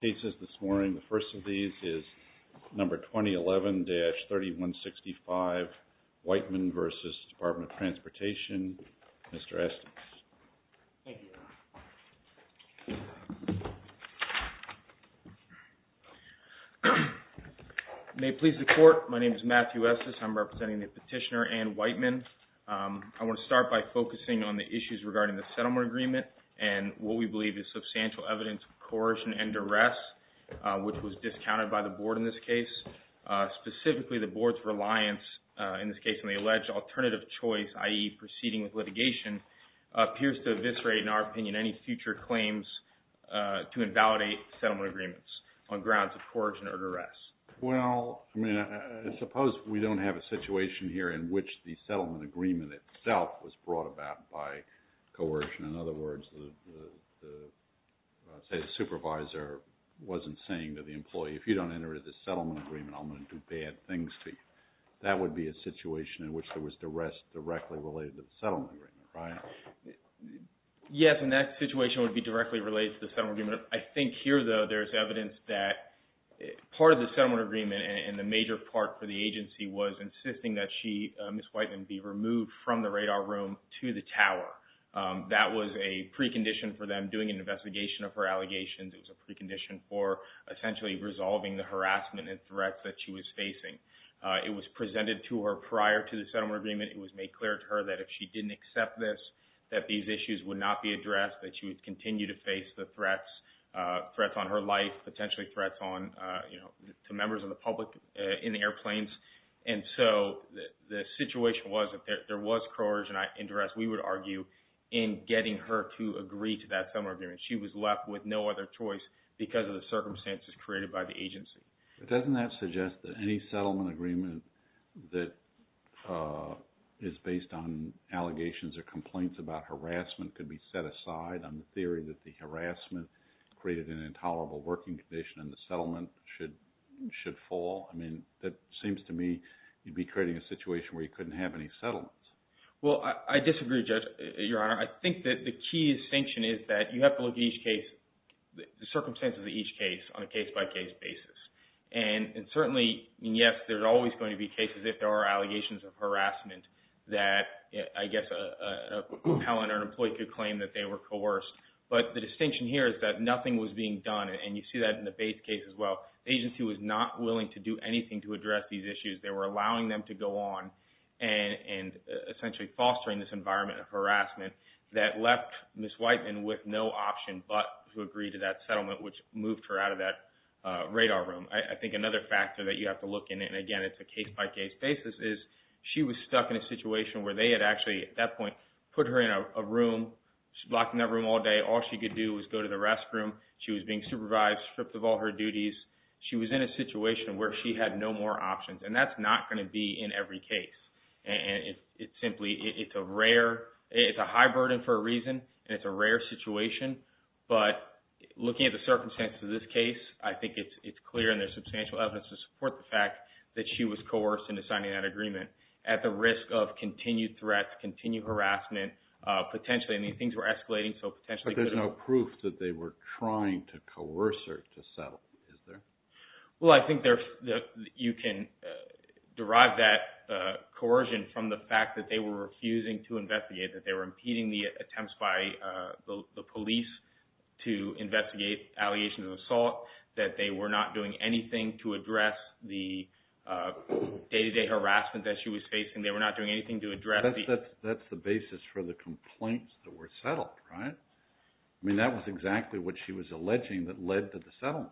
May it please the Court, my name is Matthew Estes, I'm representing the Petitioner Anne Whiteman. I want to start by focusing on the issues regarding the Settlement Agreement and what we believe is substantial evidence of coercion and duress, which was discounted by the Board in this case. Specifically, the Board's reliance, in this case on the alleged alternative choice, i.e. proceeding with litigation, appears to eviscerate, in our opinion, any future claims to invalidate settlement agreements on grounds of coercion or duress. Well, I mean, suppose we don't have a situation here in which the Settlement Agreement itself was brought about by coercion. In other words, say the supervisor wasn't saying to the employee, if you don't enter into the Settlement Agreement, I'm going to do bad things to you. That would be a situation in which there was duress directly related to the Settlement Agreement, right? Yes, and that situation would be directly related to the Settlement Agreement. I think here, though, there's evidence that part of the Settlement Agreement and the major part for the agency was insisting that Ms. Whiteman be removed from the radar room to the tower. That was a precondition for them doing an investigation of her allegations. It was a precondition for essentially resolving the harassment and threats that she was facing. It was presented to her prior to the Settlement Agreement. It was made clear to her that if she didn't accept this, that these issues would not be addressed, that she would continue to face the threats, threats on her life, potentially threats to members of the public in the airplanes. The situation was that there was coercion and duress, we would argue, in getting her to agree to that Settlement Agreement. She was left with no other choice because of the circumstances created by the agency. But doesn't that suggest that any Settlement Agreement that is based on allegations or the harassment created an intolerable working condition and the settlement should fall? I mean, it seems to me you'd be creating a situation where you couldn't have any settlements. Well, I disagree, Your Honor. I think that the key distinction is that you have to look at each case, the circumstances of each case on a case-by-case basis. And certainly, yes, there's always going to be cases if there are allegations of harassment that, I guess, a compellant or an employee could claim that they were coerced. But the distinction here is that nothing was being done. And you see that in the Bates case as well. The agency was not willing to do anything to address these issues. They were allowing them to go on and essentially fostering this environment of harassment that left Ms. Whiteman with no option but to agree to that settlement, which moved her out of that radar room. I think another factor that you have to look in, and again, it's a case-by-case basis, is she was stuck in a situation where they had actually, at that point, put her in a room. She was locked in that room all day. All she could do was go to the restroom. She was being supervised, stripped of all her duties. She was in a situation where she had no more options. And that's not going to be in every case. It's a high burden for a reason, and it's a rare situation. But looking at the circumstances of this case, I think it's clear and there's risk of continued threats, continued harassment, potentially. I mean, things were escalating. But there's no proof that they were trying to coerce her to settle, is there? Well, I think you can derive that coercion from the fact that they were refusing to investigate, that they were impeding the attempts by the police to investigate allegation of assault, that they were not doing anything to address the day-to-day harassment that she was facing. They were not doing anything to address the... That's the basis for the complaints that were settled, right? I mean, that was exactly what she was alleging that led to the settlement.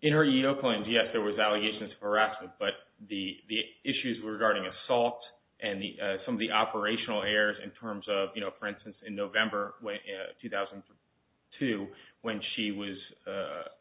In her EEO claims, yes, there was allegations of harassment, but the issues regarding assault and some of the operational errors in terms of, for instance, in November 2002, when she was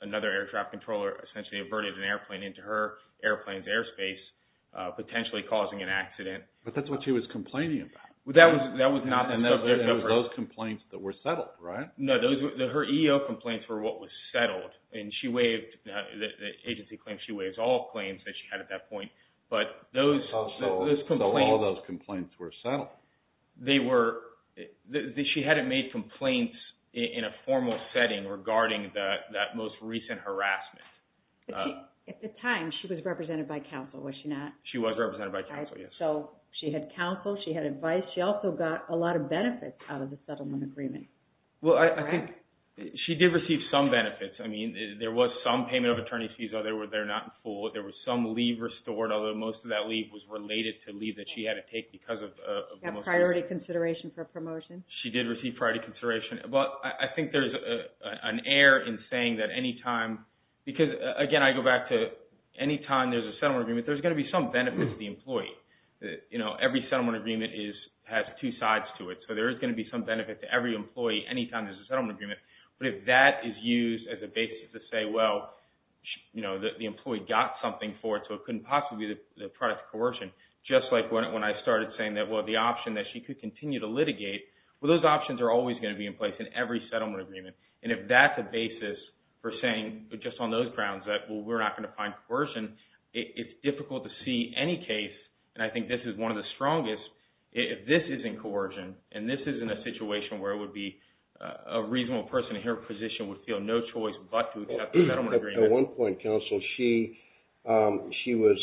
another air traffic controller, essentially averted an airplane into her airplane's airspace, potentially causing an accident. But that's what she was complaining about. That was not... Those complaints that were settled, right? No, her EEO complaints were what was settled, and she waived, the agency claims she waived all claims that she had at that point, but those complaints... So all of those complaints were settled. They were... She hadn't made complaints in a formal setting regarding that most recent harassment. At the time, she was represented by counsel, was she not? She was represented by counsel, yes. So she had counsel, she had advice, she also got a lot of benefits out of the settlement agreement. Well, I think she did receive some benefits. I mean, there was some payment of attorney's fees, although they were not in full. There was some leave restored, although most of that leave was related to leave that she had to take because of... Priority consideration for promotion. She did receive priority consideration. But I think there's an error in saying that any time... Because, again, I go back to any time there's a settlement agreement, there's going to be some benefits to the employee. Every settlement agreement has two sides to it. So there is going to be some benefit to every employee anytime there's a settlement agreement. But if that is used as a basis to say, well, the employee got something for it, so it couldn't possibly be the product of coercion, just like when I started saying that, well, the option that she could continue to litigate, well, those options are always going to be in place in every settlement agreement. And if that's a basis for saying just on those grounds that, well, we're not going to find coercion, it's difficult to see any case, and I think this is one of the strongest, if this isn't coercion and this isn't a situation where it would be a reasonable person in her position would feel no choice but to accept the settlement agreement. At one point, counsel, she was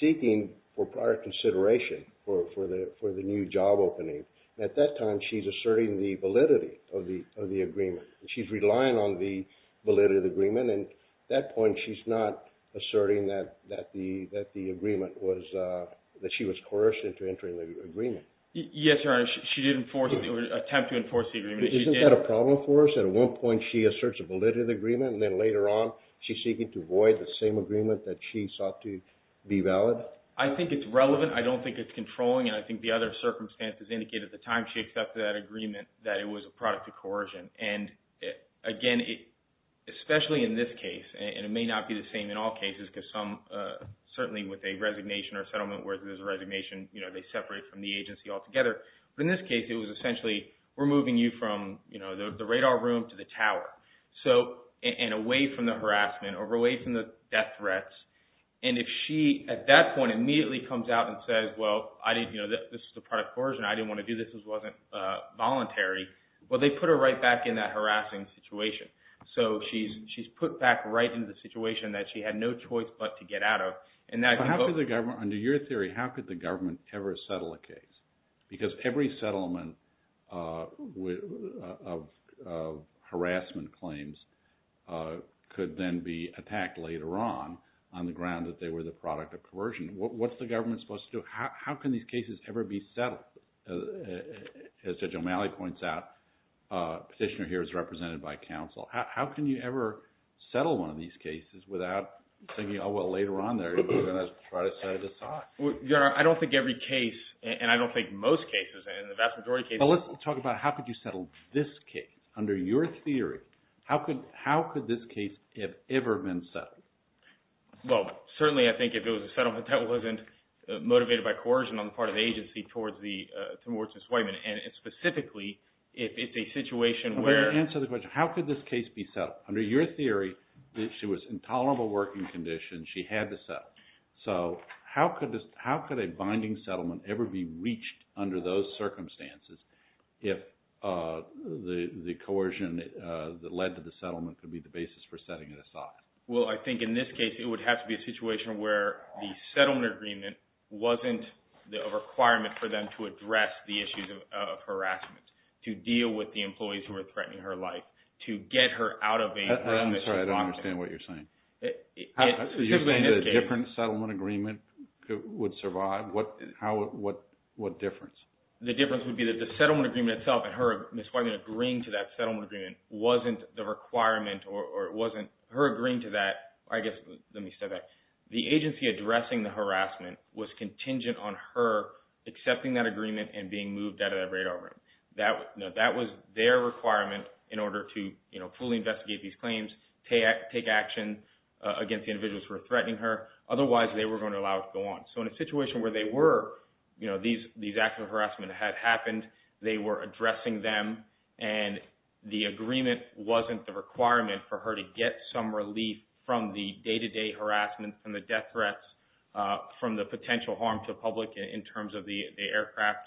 seeking for prior consideration for the new job opening. At that time, she's asserting the validity of the agreement. She's relying on the validity of the agreement, and at that point, she's not asserting that she was coerced into entering the agreement. Yes, Your Honor, she did attempt to enforce the agreement. Isn't that a problem for us? At one point, she asserts a validity of the agreement, and then later on she's seeking to avoid the same agreement that she sought to be valid? I think it's relevant. I don't think it's controlling, and I think the other circumstances indicate at the time she accepted that agreement that it was a product of coercion. Again, especially in this case, and it may not be the same in all cases because some, certainly with a resignation or a settlement where there's a resignation, they separate from the agency altogether. In this case, it was essentially removing you from the radar room to the tower, and away from the harassment or away from the death threats. If she, at that point, immediately comes out and says, well, this is a product of coercion. I didn't want to do this. This wasn't voluntary. Well, they put her right back in that harassing situation. So she's put back right into the situation that she had no choice but to get out of. Under your theory, how could the government ever settle a case? Because every settlement of harassment claims could then be attacked later on, on the ground that they were the product of coercion. What's the government supposed to do? How can these cases ever be settled? As Judge O'Malley points out, the petitioner here is represented by counsel. How can you ever settle one of these cases without thinking, oh, well, later on they're going to try to set it aside? Your Honor, I don't think every case, and I don't think most cases, and the vast majority of cases— Well, let's talk about how could you settle this case. Under your theory, how could this case have ever been settled? Well, certainly I think if it was a settlement that wasn't motivated by coercion on the part of the agency towards Ms. Whiteman, and specifically if it's a situation where— Let me answer the question. How could this case be settled? Under your theory, she was in tolerable working condition. She had to settle. So how could a binding settlement ever be reached under those circumstances if the coercion that led to the settlement could be the basis for setting it aside? Well, I think in this case it would have to be a situation where the settlement agreement wasn't a requirement for them to address the issues of harassment, to deal with the employees who were threatening her life, to get her out of a— I'm sorry. I don't understand what you're saying. You're saying that a different settlement agreement would survive? What difference? The difference would be that the settlement agreement itself, and Ms. Whiteman agreeing to that settlement agreement, wasn't the requirement or wasn't her agreeing to that. I guess, let me say that. The agency addressing the harassment was contingent on her accepting that agreement and being moved out of that radar room. That was their requirement in order to fully investigate these claims, take action against the individuals who were threatening her. Otherwise, they were going to allow it to go on. So in a situation where they were, these acts of harassment had happened, they were addressing them, and the agreement wasn't the requirement for her to get some relief from the day-to-day harassment, from the death threats, from the potential harm to the public in terms of the aircraft,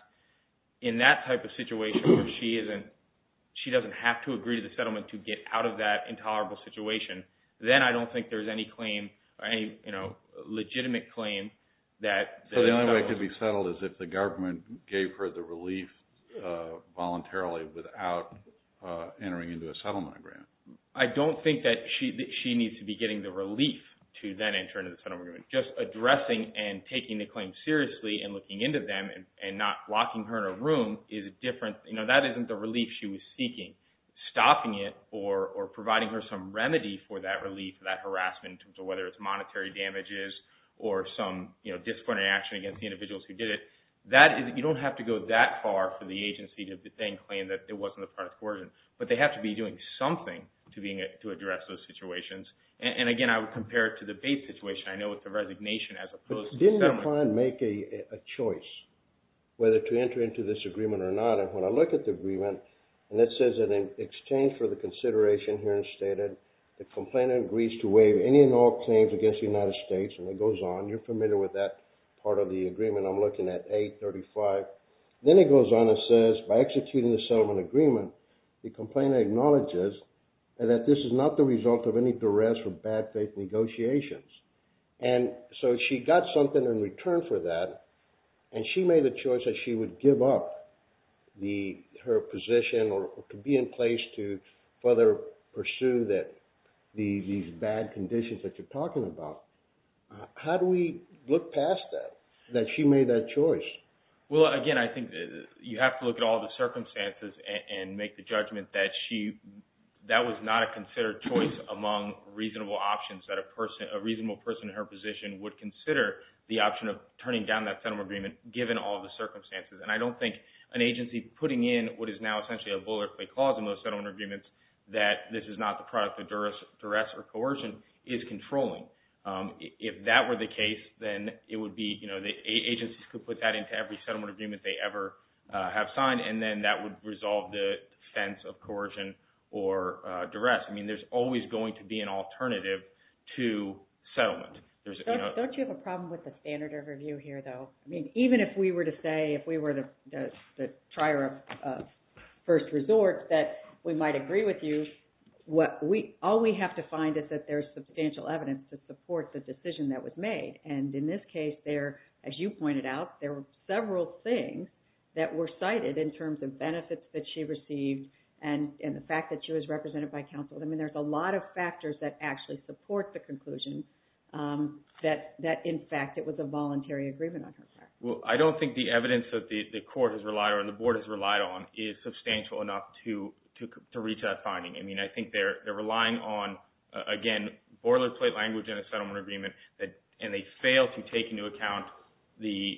in that type of situation where she doesn't have to agree to the settlement to get out of that intolerable situation, then I don't think there's any claim, any legitimate claim that— voluntarily without entering into a settlement agreement. I don't think that she needs to be getting the relief to then enter into the settlement agreement. Just addressing and taking the claim seriously and looking into them and not locking her in a room is a different—that isn't the relief she was seeking. Stopping it or providing her some remedy for that relief, that harassment, whether it's monetary damages or some disciplinary action against the individuals who did it, you don't have to go that far for the agency to then claim that it wasn't a part of coercion. But they have to be doing something to address those situations. And again, I would compare it to the Bates situation. I know it's a resignation as opposed to settlement. Didn't the client make a choice whether to enter into this agreement or not? And when I look at the agreement, and it says that in exchange for the consideration here and stated the complainant agrees to waive any and all claims against the United States, and it goes on—you're familiar with that part of the agreement. I'm looking at 835. Then it goes on and says, by executing the settlement agreement, the complainant acknowledges that this is not the result of any duress or bad faith negotiations. And so she got something in return for that, and she made the choice that she would give up her position or to be in place to further pursue these bad conditions that you're talking about. How do we look past that, that she made that choice? Well, again, I think you have to look at all the circumstances and make the judgment that that was not a considered choice among reasonable options, that a reasonable person in her position would consider the option of turning down that settlement agreement given all the circumstances. And I don't think an agency putting in what is now essentially a bullet play clause in most settlement agreements that this is not the product of duress or coercion is controlling. If that were the case, then it would be— the agencies could put that into every settlement agreement they ever have signed, and then that would resolve the defense of coercion or duress. I mean, there's always going to be an alternative to settlement. Don't you have a problem with the standard of review here, though? I mean, even if we were to say, if we were the trier of first resort, that we might agree with you, all we have to find is that there's substantial evidence to support the decision that was made. And in this case, as you pointed out, there were several things that were cited in terms of benefits that she received and the fact that she was represented by counsel. I mean, there's a lot of factors that actually support the conclusion that, in fact, it was a voluntary agreement on her part. Well, I don't think the evidence that the court has relied on, the board has relied on, is substantial enough to reach that finding. I mean, I think they're relying on, again, boilerplate language in a settlement agreement, and they fail to take into account the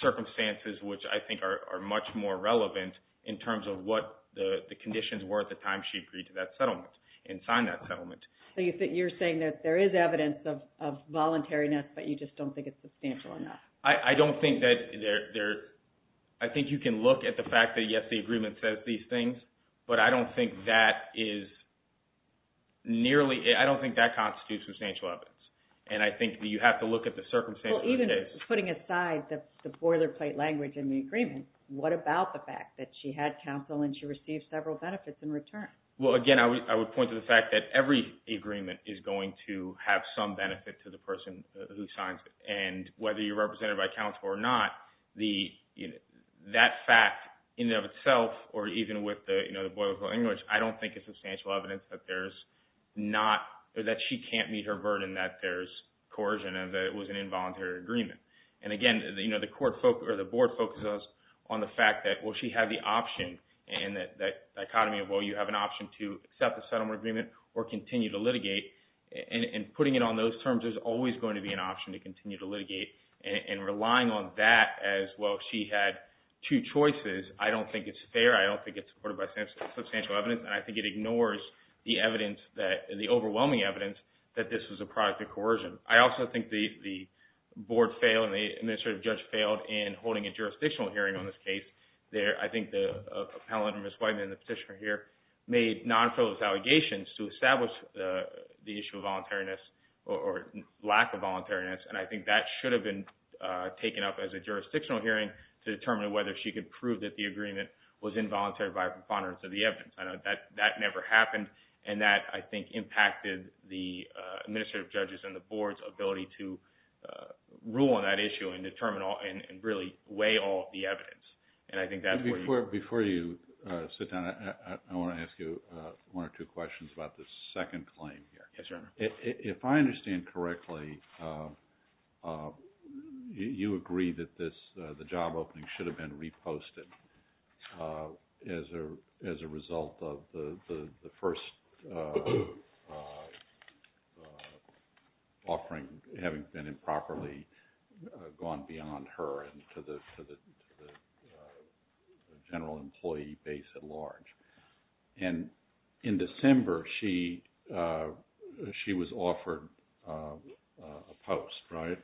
circumstances which I think are much more relevant in terms of what the conditions were at the time she agreed to that settlement and signed that settlement. So you're saying that there is evidence of voluntariness, but you just don't think it's substantial enough? I don't think that there – I think you can look at the fact that, yes, the agreement says these things, but I don't think that is nearly – I don't think that constitutes substantial evidence. And I think that you have to look at the circumstances of the case. Well, even putting aside the boilerplate language in the agreement, what about the fact that she had counsel and she received several benefits in return? Well, again, I would point to the fact that every agreement is going to have some benefit to the person who signs it. And whether you're represented by counsel or not, that fact in and of itself, or even with the boilerplate language, I don't think is substantial evidence that there's not – that she can't meet her burden that there's coercion and that it was an involuntary agreement. And, again, the court – or the board focuses on the fact that, well, she had the option, and that dichotomy of, well, you have an option to accept the settlement agreement or continue to litigate. And putting it on those terms, there's always going to be an option to continue to litigate. And relying on that as, well, she had two choices, I don't think it's fair. I don't think it's supported by substantial evidence. And I think it ignores the evidence that – the overwhelming evidence that this was a product of coercion. I also think the board failed and the administrative judge failed in holding a jurisdictional hearing on this case. I think the – a panel member, Ms. Whiteman, the petitioner here, made non-fellows allegations to establish the issue of voluntariness or lack of voluntariness. And I think that should have been taken up as a jurisdictional hearing to determine whether she could prove that the agreement was involuntary by a preponderance of the evidence. That never happened. And that, I think, impacted the administrative judge's and the board's ability to rule on that issue and determine all – and really weigh all of the evidence. And I think that's where you – Before you sit down, I want to ask you one or two questions about this second claim here. Yes, Your Honor. If I understand correctly, you agree that this – the job opening should have been reposted as a result of the first offering having been improperly gone beyond her and to the general employee base at large. And in December, she was offered a post, right?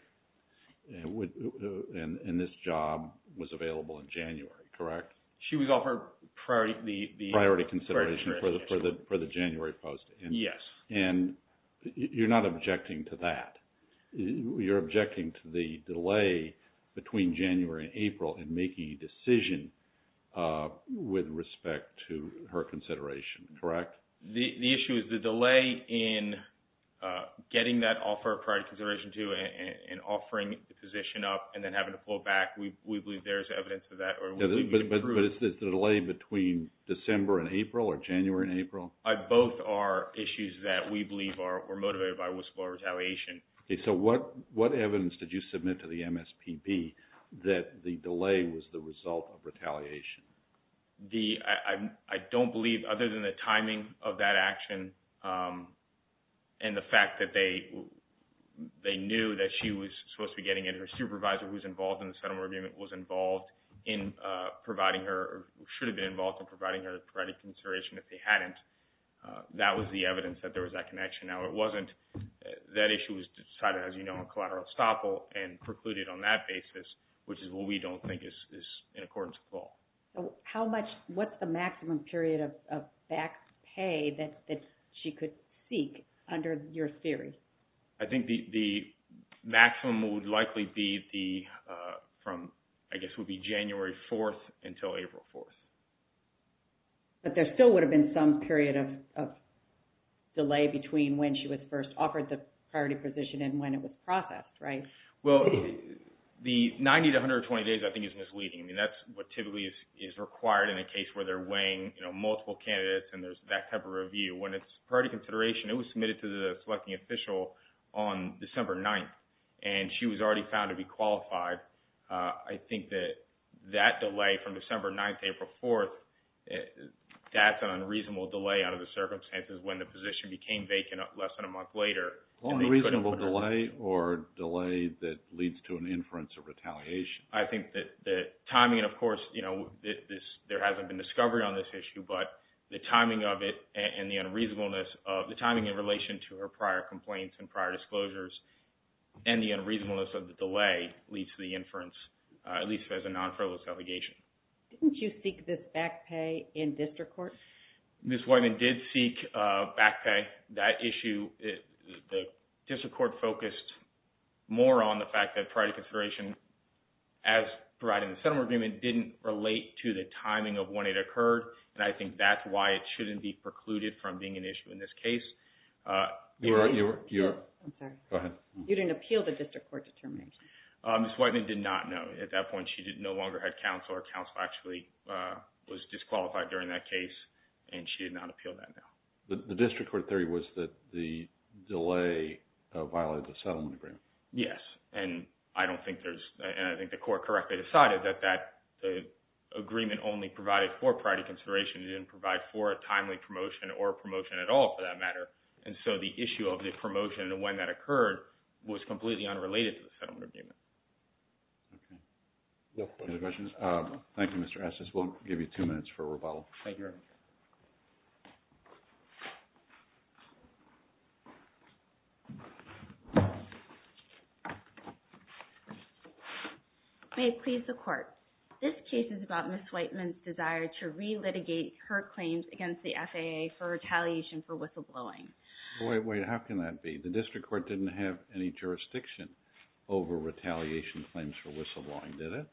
And this job was available in January, correct? She was offered priority – Priority consideration for the January post. Yes. And you're not objecting to that. You're objecting to the delay between January and April in making a decision with respect to her consideration, correct? The issue is the delay in getting that offer of priority consideration to and offering the position up and then having to pull back. We believe there is evidence of that. But is it the delay between December and April or January and April? Both are issues that we believe were motivated by whistleblower retaliation. Okay. So what evidence did you submit to the MSPB that the delay was the result of retaliation? I don't believe, other than the timing of that action and the fact that they knew that she was supposed to be getting it, that her supervisor who was involved in the settlement agreement was involved in providing her – should have been involved in providing her priority consideration if they hadn't. That was the evidence that there was that connection. Now, it wasn't. That issue was decided, as you know, on collateral estoppel and precluded on that basis, which is what we don't think is in accordance at all. How much – what's the maximum period of back pay that she could seek under your theory? I think the maximum would likely be the – from, I guess, would be January 4th until April 4th. But there still would have been some period of delay between when she was first offered the priority position and when it was processed, right? Well, the 90 to 120 days I think is misleading. I mean, that's what typically is required in a case where they're weighing, you know, multiple candidates and there's that type of review. When it's priority consideration, it was submitted to the selecting official on December 9th, and she was already found to be qualified. I think that that delay from December 9th to April 4th, that's an unreasonable delay out of the circumstances when the position became vacant less than a month later. An unreasonable delay or delay that leads to an inference of retaliation? I think that the timing, of course, you know, there hasn't been discovery on this issue, but the timing of it and the unreasonableness of the timing in relation to her prior complaints and prior disclosures and the unreasonableness of the delay leads to the inference, at least as a non-fraudless allegation. Didn't you seek this back pay in district court? Ms. Whiteman did seek back pay. That issue, the district court focused more on the fact that priority consideration, as provided in the settlement agreement, didn't relate to the timing of when it occurred. And I think that's why it shouldn't be precluded from being an issue in this case. I'm sorry. Go ahead. You didn't appeal the district court determination? Ms. Whiteman did not, no. At that point, she no longer had counsel. Her counsel actually was disqualified during that case, and she did not appeal that now. The district court theory was that the delay violated the settlement agreement. Yes, and I don't think there's, and I think the court correctly decided that the agreement only provided for priority consideration. It didn't provide for a timely promotion or a promotion at all, for that matter. And so the issue of the promotion and when that occurred was completely unrelated to the settlement agreement. Okay. Any other questions? Thank you, Mr. Estes. We'll give you two minutes for rebuttal. Thank you very much. May it please the Court. This case is about Ms. Whiteman's desire to relitigate her claims against the FAA for retaliation for whistleblowing. Wait, wait. How can that be? The district court didn't have any jurisdiction over retaliation claims for whistleblowing, did it?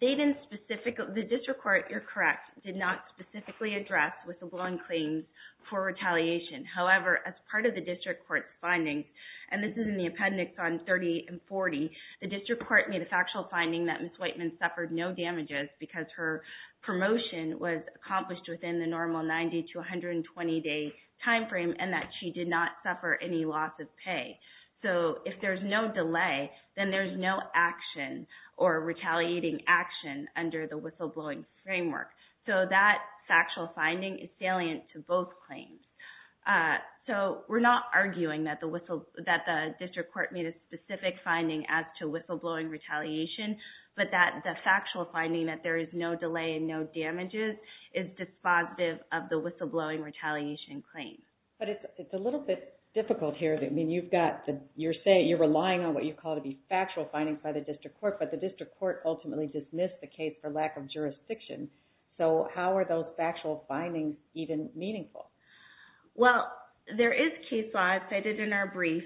They didn't specifically, the district court, you're correct, did not specifically address whistleblowing claims for retaliation. However, as part of the district court's findings, and this is in the appendix on 30 and 40, the district court made a factual finding that Ms. Whiteman suffered no damages because her promotion was accomplished within the normal 90 to 120-day timeframe and that she did not suffer any loss of pay. So if there's no delay, then there's no action or retaliating action under the whistleblowing framework. So that factual finding is salient to both claims. So we're not arguing that the district court made a specific finding as to whistleblowing retaliation, but that the factual finding that there is no delay and no damages is dispositive of the whistleblowing retaliation claim. But it's a little bit difficult here. I mean, you're saying you're relying on what you call to be factual findings by the district court, but the district court ultimately dismissed the case for lack of jurisdiction. So how are those factual findings even meaningful? Well, there is case law, as stated in our brief,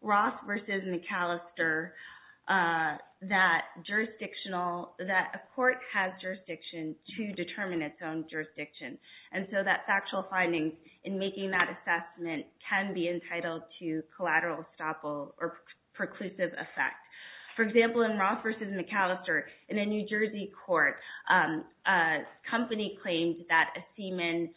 Ross v. McAllister, that a court has jurisdiction to determine its own jurisdiction. And so that factual finding in making that assessment can be entitled to collateral estoppel or preclusive effect. For example, in Ross v. McAllister, in a New Jersey court, a company claimed that a seaman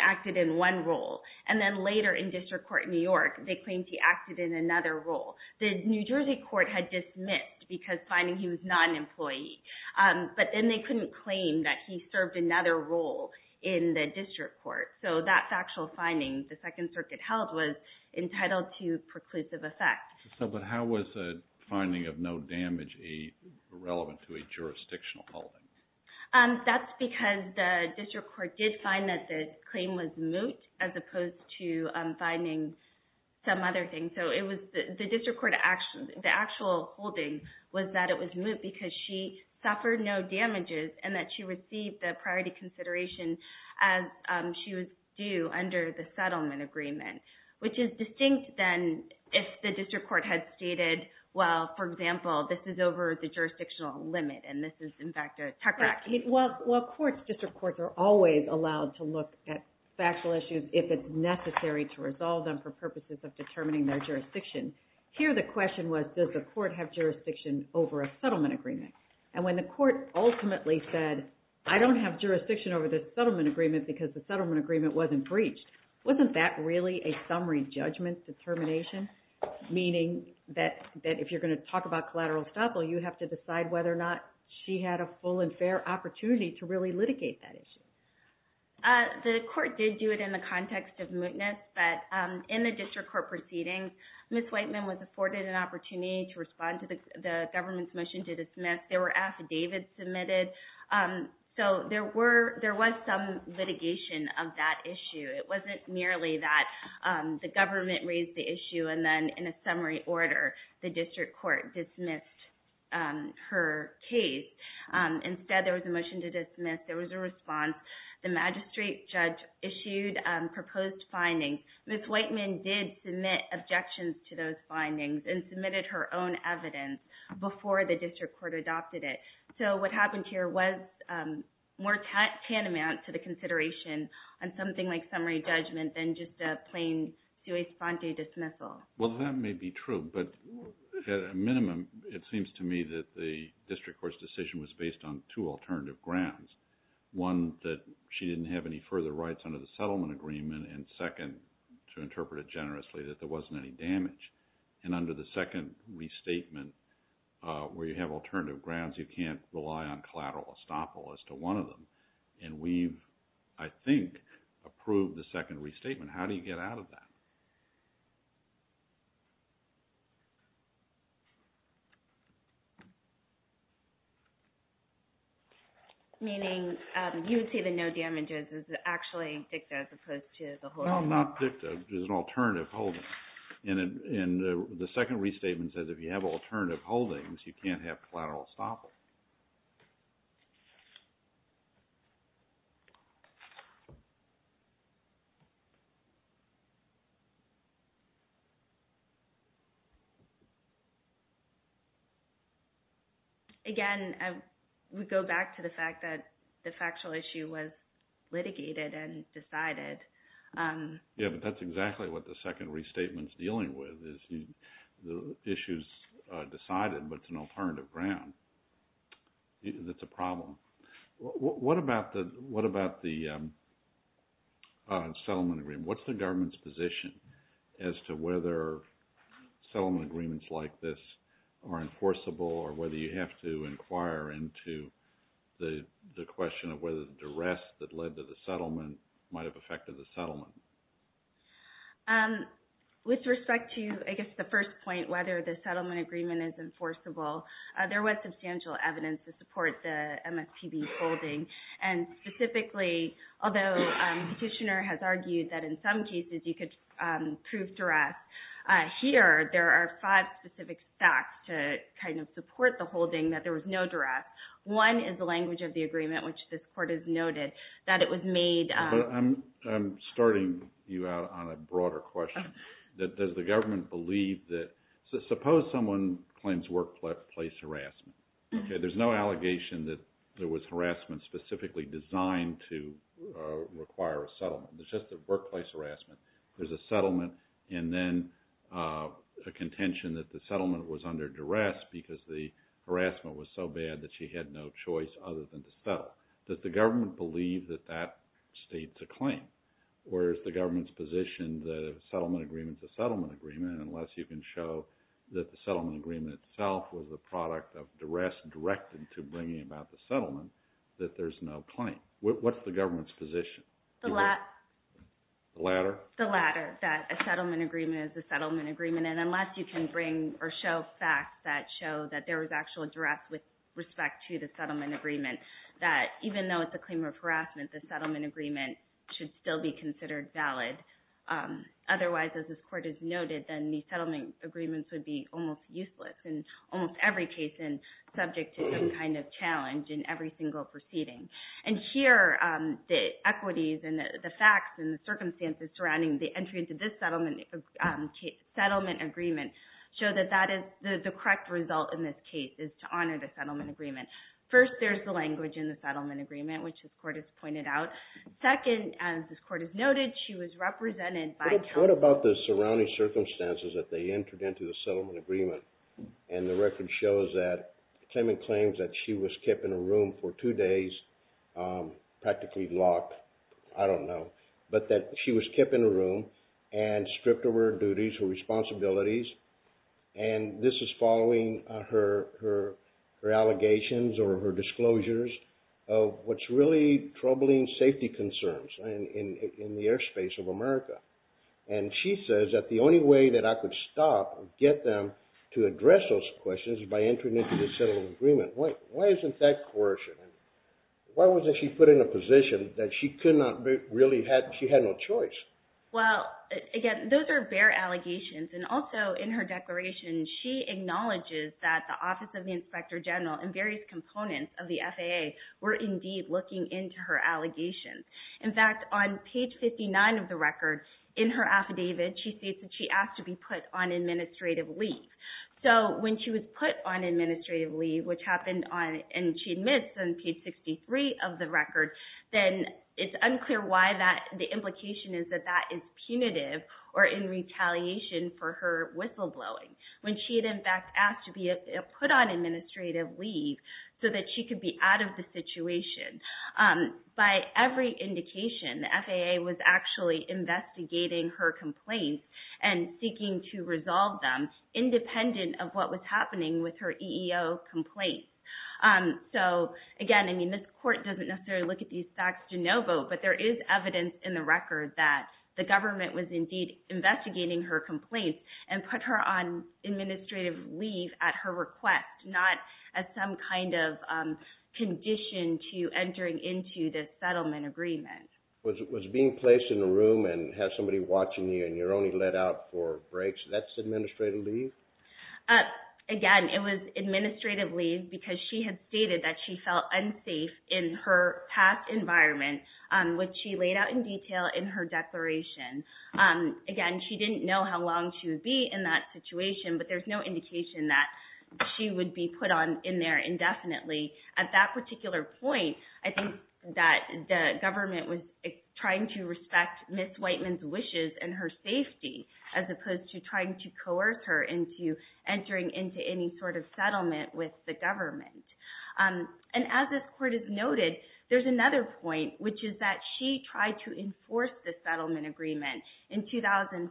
acted in one role. And then later in district court in New York, they claimed he acted in another role. The New Jersey court had dismissed because finding he was not an employee. But then they couldn't claim that he served another role in the district court. So that factual finding the Second Circuit held was entitled to preclusive effect. So how was the finding of no damage irrelevant to a jurisdictional holding? That's because the district court did find that the claim was moot as opposed to finding some other thing. The actual holding was that it was moot because she suffered no damages and that she received the priority consideration as she was due under the settlement agreement, which is distinct than if the district court had stated, well, for example, this is over the jurisdictional limit. And this is, in fact, a tech fact. Well, courts, district courts, are always allowed to look at factual issues if it's necessary to resolve them for purposes of determining their jurisdiction. Here, the question was, does the court have jurisdiction over a settlement agreement? And when the court ultimately said, I don't have jurisdiction over this settlement agreement because the settlement agreement wasn't breached, wasn't that really a summary judgment determination? Meaning that if you're going to talk about collateral estoppel, you have to decide whether or not she had a full and fair opportunity to really litigate that issue. The court did do it in the context of mootness, but in the district court proceedings, Ms. Whiteman was afforded an opportunity to respond to the government's motion to dismiss. There were affidavits submitted, so there was some litigation of that issue. It wasn't merely that the government raised the issue and then in a summary order, the district court dismissed her case. Instead, there was a motion to dismiss. There was a response. The magistrate judge issued proposed findings. Ms. Whiteman did submit objections to those findings and submitted her own evidence before the district court adopted it. So what happened here was more tantamount to the consideration on something like summary judgment than just a plain sui sponte dismissal. Well, that may be true, but at a minimum, it seems to me that the district court's decision was based on two alternative grounds. One, that she didn't have any further rights under the settlement agreement, and second, to interpret it generously, that there wasn't any damage. And under the second restatement, where you have alternative grounds, you can't rely on collateral estoppel as to one of them. And we've, I think, approved the second restatement. How do you get out of that? Meaning you would say the no damages is actually dicta as opposed to the holdings. Well, not dicta. It's an alternative holding. And the second restatement says if you have alternative holdings, you can't have collateral estoppel. Again, we go back to the fact that the factual issue was litigated and decided. Yeah, but that's exactly what the second restatement's dealing with, is the issue's decided, but it's an alternative ground. That's a problem. What about the settlement agreement? What's the government's position as to whether settlement agreements like this are enforceable or whether you have to inquire into the question of whether the duress that led to the settlement might have affected the settlement? With respect to, I guess, the first point, whether the settlement agreement is enforceable, there was substantial evidence to support the MSPB holding. And specifically, although Petitioner has argued that in some cases you could prove duress, here there are five specific facts to kind of support the holding that there was no duress. One is the language of the agreement, which this Court has noted, that it was made... I'm starting you out on a broader question. Does the government believe that... Suppose someone claims workplace harassment. There's no allegation that there was harassment specifically designed to require a settlement. It's just a workplace harassment. There's a settlement and then a contention that the settlement was under duress because the harassment was so bad that she had no choice other than to settle. Does the government believe that that states a claim? Or is the government's position that a settlement agreement is a settlement agreement unless you can show that the settlement agreement itself was a product of duress directed to bringing about the settlement, that there's no claim? What's the government's position? The latter. The latter, that a settlement agreement is a settlement agreement. And then unless you can bring or show facts that show that there was actual duress with respect to the settlement agreement, that even though it's a claim of harassment, the settlement agreement should still be considered valid. Otherwise, as this Court has noted, then the settlement agreements would be almost useless in almost every case and subject to some kind of challenge in every single proceeding. And here, the equities and the facts and the circumstances surrounding the entry into this settlement agreement show that the correct result in this case is to honor the settlement agreement. First, there's the language in the settlement agreement, which this Court has pointed out. Second, as this Court has noted, she was represented by— What about the surrounding circumstances that they entered into the settlement agreement? And the record shows that the claimant claims that she was kept in a room for two days, practically locked, I don't know, but that she was kept in a room and stripped of her duties, her responsibilities, and this is following her allegations or her disclosures of what's really troubling safety concerns in the airspace of America. And she says that the only way that I could stop or get them to address those questions is by entering into this settlement agreement. Why isn't that coercion? Why wasn't she put in a position that she could not really—she had no choice? Well, again, those are bare allegations, and also in her declaration, she acknowledges that the Office of the Inspector General and various components of the FAA were indeed looking into her allegations. In fact, on page 59 of the record, in her affidavit, she states that she asked to be put on administrative leave. So when she was put on administrative leave, which happened on— and she admits on page 63 of the record, then it's unclear why that— the implication is that that is punitive or in retaliation for her whistleblowing, when she had, in fact, asked to be put on administrative leave so that she could be out of the situation. By every indication, the FAA was actually investigating her complaints and seeking to resolve them independent of what was happening with her EEO complaints. So, again, I mean, this court doesn't necessarily look at these facts de novo, but there is evidence in the record that the government was indeed investigating her complaints and put her on administrative leave at her request, not as some kind of condition to entering into this settlement agreement. Was being placed in a room and have somebody watching you and you're only let out for breaks, that's administrative leave? Again, it was administrative leave because she had stated that she felt unsafe in her past environment, which she laid out in detail in her declaration. Again, she didn't know how long she would be in that situation, but there's no indication that she would be put in there indefinitely. At that particular point, I think that the government was trying to respect Ms. Whiteman's wishes and her safety as opposed to trying to coerce her into entering into any sort of settlement with the government. And as this court has noted, there's another point, which is that she tried to enforce the settlement agreement in 2004.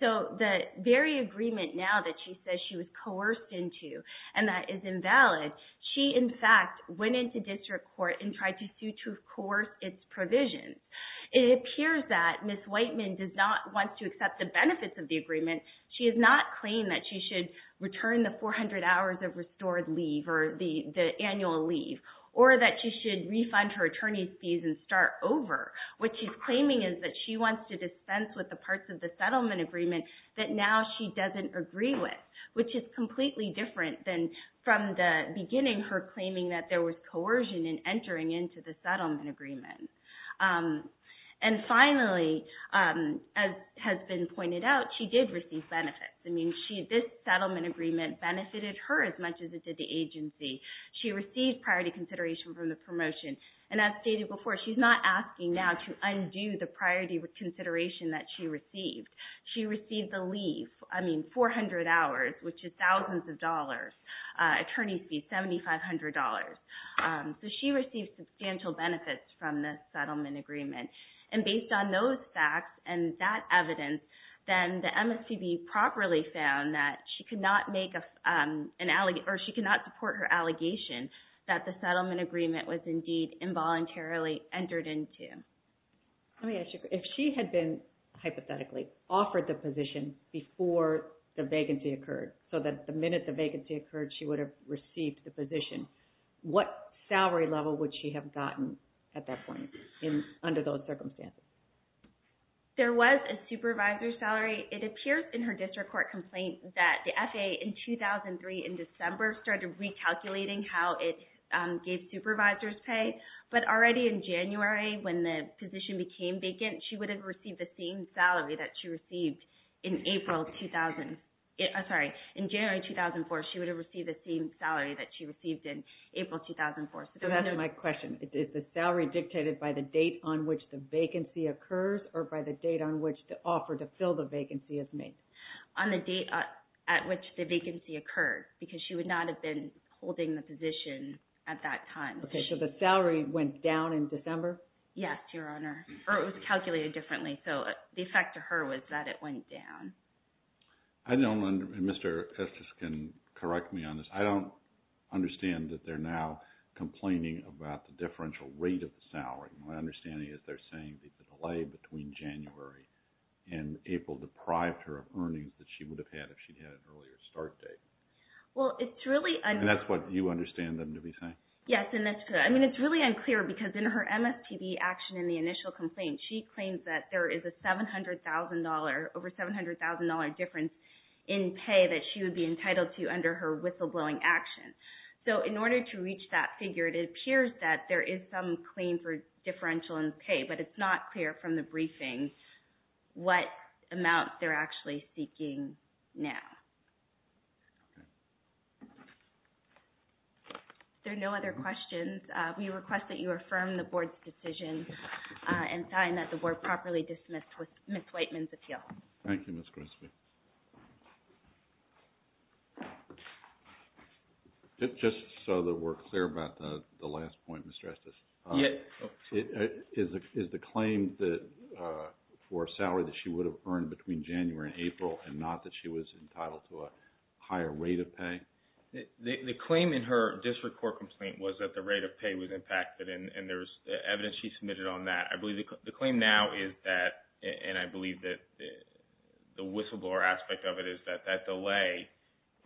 So the very agreement now that she says she was coerced into and that is invalid, she in fact went into district court and tried to sue to coerce its provisions. It appears that Ms. Whiteman does not want to accept the benefits of the agreement. She has not claimed that she should return the 400 hours of restored leave or the annual leave, or that she should refund her attorney's fees and start over. What she's claiming is that she wants to dispense with the parts of the settlement agreement that now she doesn't agree with, which is completely different than from the beginning, her claiming that there was coercion in entering into the settlement agreement. And finally, as has been pointed out, she did receive benefits. I mean, this settlement agreement benefited her as much as it did the agency. She received priority consideration from the promotion. And as stated before, she's not asking now to undo the priority consideration that she received. She received the leave, I mean, 400 hours, which is thousands of dollars. Attorney's fees, $7,500. So she received substantial benefits from this settlement agreement. And based on those facts and that evidence, then the MSPB properly found that she could not support her allegation that the settlement agreement was indeed involuntarily entered into. Let me ask you, if she had been hypothetically offered the position before the vacancy occurred, so that the minute the vacancy occurred, she would have received the position, what salary level would she have gotten at that point under those circumstances? There was a supervisor's salary. It appears in her district court complaint that the FAA in 2003 in December started recalculating how it gave supervisors pay. But already in January, when the position became vacant, she would have received the same salary that she received in April 2004. So that's my question. Is the salary dictated by the date on which the vacancy occurs or by the date on which the offer to fill the vacancy is made? On the date at which the vacancy occurred, because she would not have been holding the position at that time. Okay. So the salary went down in December? Yes, Your Honor. Or it was calculated differently. So the effect to her was that it went down. I don't understand. Mr. Estes can correct me on this. I don't understand that they're now complaining about the differential rate of the salary. My understanding is they're saying that the delay between January and April deprived her of earnings that she would have had if she'd had an earlier start date. Well, it's really… And that's what you understand them to be saying? Yes, and that's good. I mean, it's really unclear because in her MSPB action in the initial complaint, she claims that there is a $700,000 – over $700,000 difference in pay that she would be entitled to under her whistleblowing action. So in order to reach that figure, it appears that there is some claim for differential in pay, but it's not clear from the briefing what amount they're actually seeking now. Okay. There are no other questions. We request that you affirm the Board's decision and sign that the Board properly dismissed with Ms. Whiteman's appeal. Thank you, Ms. Grisby. Just so that we're clear about the last point, Mr. Estes, is the claim for salary that she would have earned between January and April and not that she was entitled to a higher rate of pay? The claim in her district court complaint was that the rate of pay was impacted, and there's evidence she submitted on that. I believe the claim now is that – and I believe that the whistleblower aspect of it is that that delay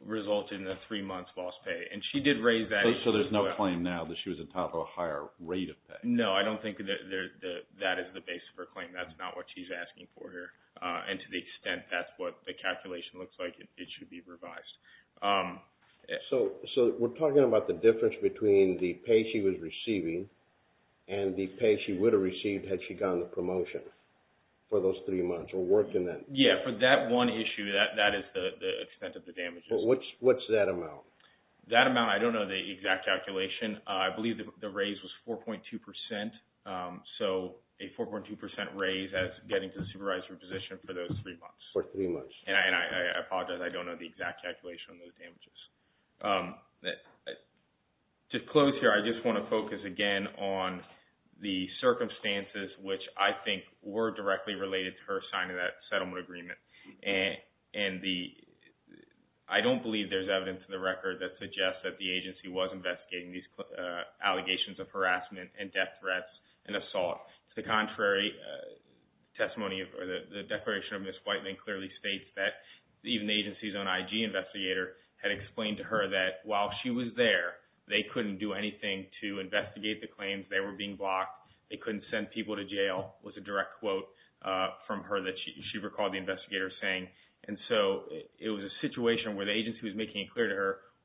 resulted in a three-months lost pay, and she did raise that as well. So there's no claim now that she was entitled to a higher rate of pay? No, I don't think that that is the base of her claim. That's not what she's asking for here. And to the extent that's what the calculation looks like, it should be revised. So we're talking about the difference between the pay she was receiving and the pay she would have received had she gone to promotion for those three months or worked in that – Yeah, for that one issue, that is the extent of the damages. But what's that amount? That amount, I don't know the exact calculation. I believe the raise was 4.2 percent. So a 4.2 percent raise as getting to the supervisory position for those three months. For three months. And I apologize, I don't know the exact calculation on those damages. To close here, I just want to focus again on the circumstances, which I think were directly related to her signing that settlement agreement. I don't believe there's evidence in the record that suggests that the agency was investigating these allegations of harassment and death threats and assault. To the contrary, the declaration of Ms. Whiteman clearly states that even the agency's own IG investigator had explained to her that while she was there, they couldn't do anything to investigate the claims. They were being blocked. They couldn't send people to jail, was a direct quote from her that she recalled the investigator saying.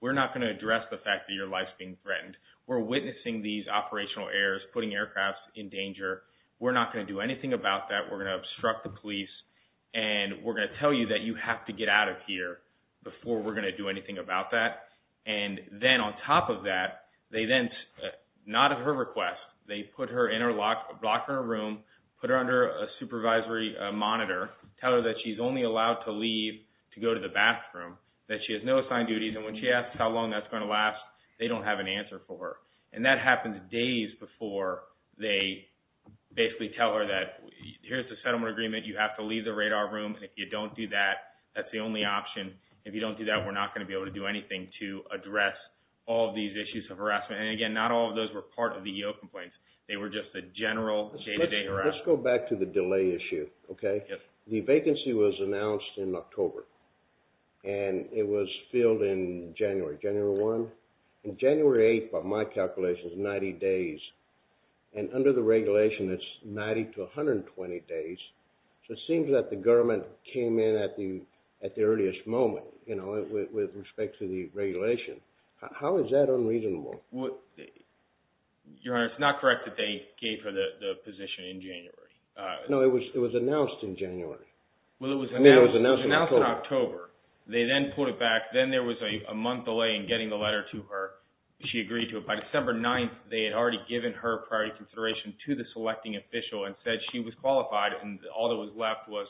We're not going to address the fact that your life's being threatened. We're witnessing these operational errors, putting aircrafts in danger. We're not going to do anything about that. We're going to obstruct the police. And we're going to tell you that you have to get out of here before we're going to do anything about that. And then on top of that, they then, not at her request, they put her in her locker room, put her under a supervisory monitor, tell her that she's only allowed to leave to go to the bathroom, that she has no assigned duties, and when she asks how long that's going to last, they don't have an answer for her. And that happens days before they basically tell her that here's the settlement agreement, you have to leave the radar room. If you don't do that, that's the only option. If you don't do that, we're not going to be able to do anything to address all of these issues of harassment. And again, not all of those were part of the EO complaints. They were just the general day-to-day harassment. Let's go back to the delay issue. The vacancy was announced in October, and it was filled in January, January 1. In January 8, by my calculations, 90 days. And under the regulation, it's 90 to 120 days. So it seems that the government came in at the earliest moment with respect to the regulation. How is that unreasonable? Your Honor, it's not correct that they gave her the position in January. No, it was announced in January. It was announced in October. They then pulled it back. Then there was a month delay in getting the letter to her. She agreed to it. By December 9, they had already given her priority consideration to the selecting official and said she was qualified, and all that was left was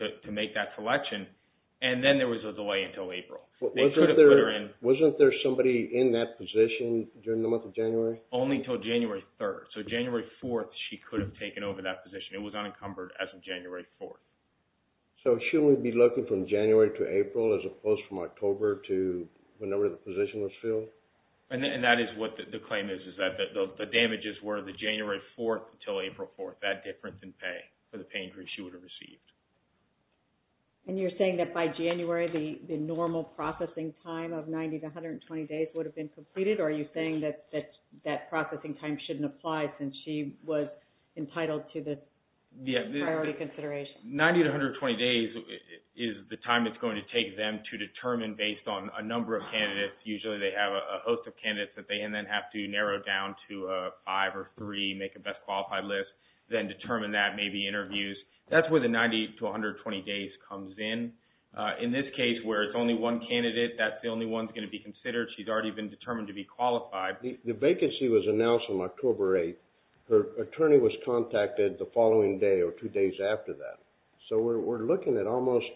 to make that selection. And then there was a delay until April. Wasn't there somebody in that position during the month of January? Only until January 3. So January 4, she could have taken over that position. It was unencumbered as of January 4. So shouldn't we be looking from January to April, as opposed from October to whenever the position was filled? And that is what the claim is, is that the damages were the January 4 until April 4, that difference in pay for the pay increase she would have received. And you're saying that by January, the normal processing time of 90 to 120 days would have been completed, or are you saying that that processing time shouldn't apply since she was entitled to the priority consideration? 90 to 120 days is the time it's going to take them to determine based on a number of candidates. Usually they have a host of candidates that they then have to narrow down to five or three, make a best qualified list, then determine that, maybe interviews. That's where the 90 to 120 days comes in. In this case, where it's only one candidate, that's the only one that's going to be considered. She's already been determined to be qualified. The vacancy was announced on October 8. Her attorney was contacted the following day or two days after that. So we're looking at almost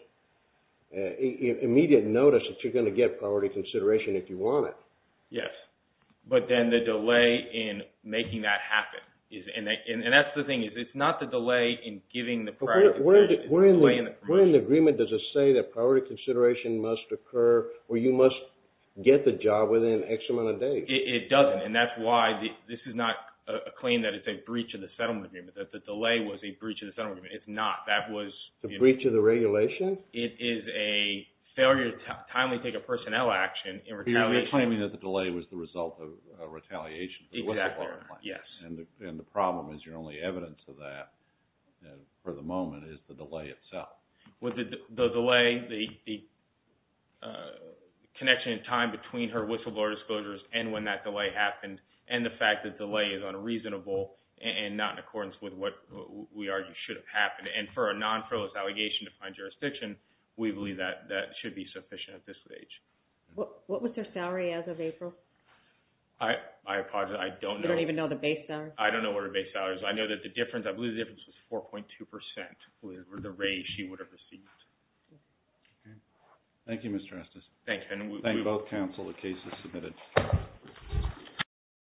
immediate notice that you're going to get priority consideration if you want it. Yes, but then the delay in making that happen. And that's the thing, it's not the delay in giving the priority consideration. Where in the agreement does it say that priority consideration must occur or you must get the job within X amount of days? It doesn't, and that's why this is not a claim that it's a breach of the settlement agreement, that the delay was a breach of the settlement agreement. It's not. It's a breach of the regulation? It is a failure to timely take a personnel action in retaliation. You're claiming that the delay was the result of retaliation. Exactly, yes. And the problem is your only evidence of that for the moment is the delay itself. With the delay, the connection in time between her whistleblower disclosures and when that delay happened, and the fact that delay is unreasonable and not in accordance with what we argue should have happened. And for a non-freelance allegation to find jurisdiction, we believe that that should be sufficient at this stage. What was her salary as of April? I apologize, I don't know. You don't even know the base salary? I don't know what her base salary is. I know that the difference, I believe the difference was 4.2 percent or the raise she would have received. Thank you, Mr. Estes. Thank you. And we thank both counsel. The case is submitted.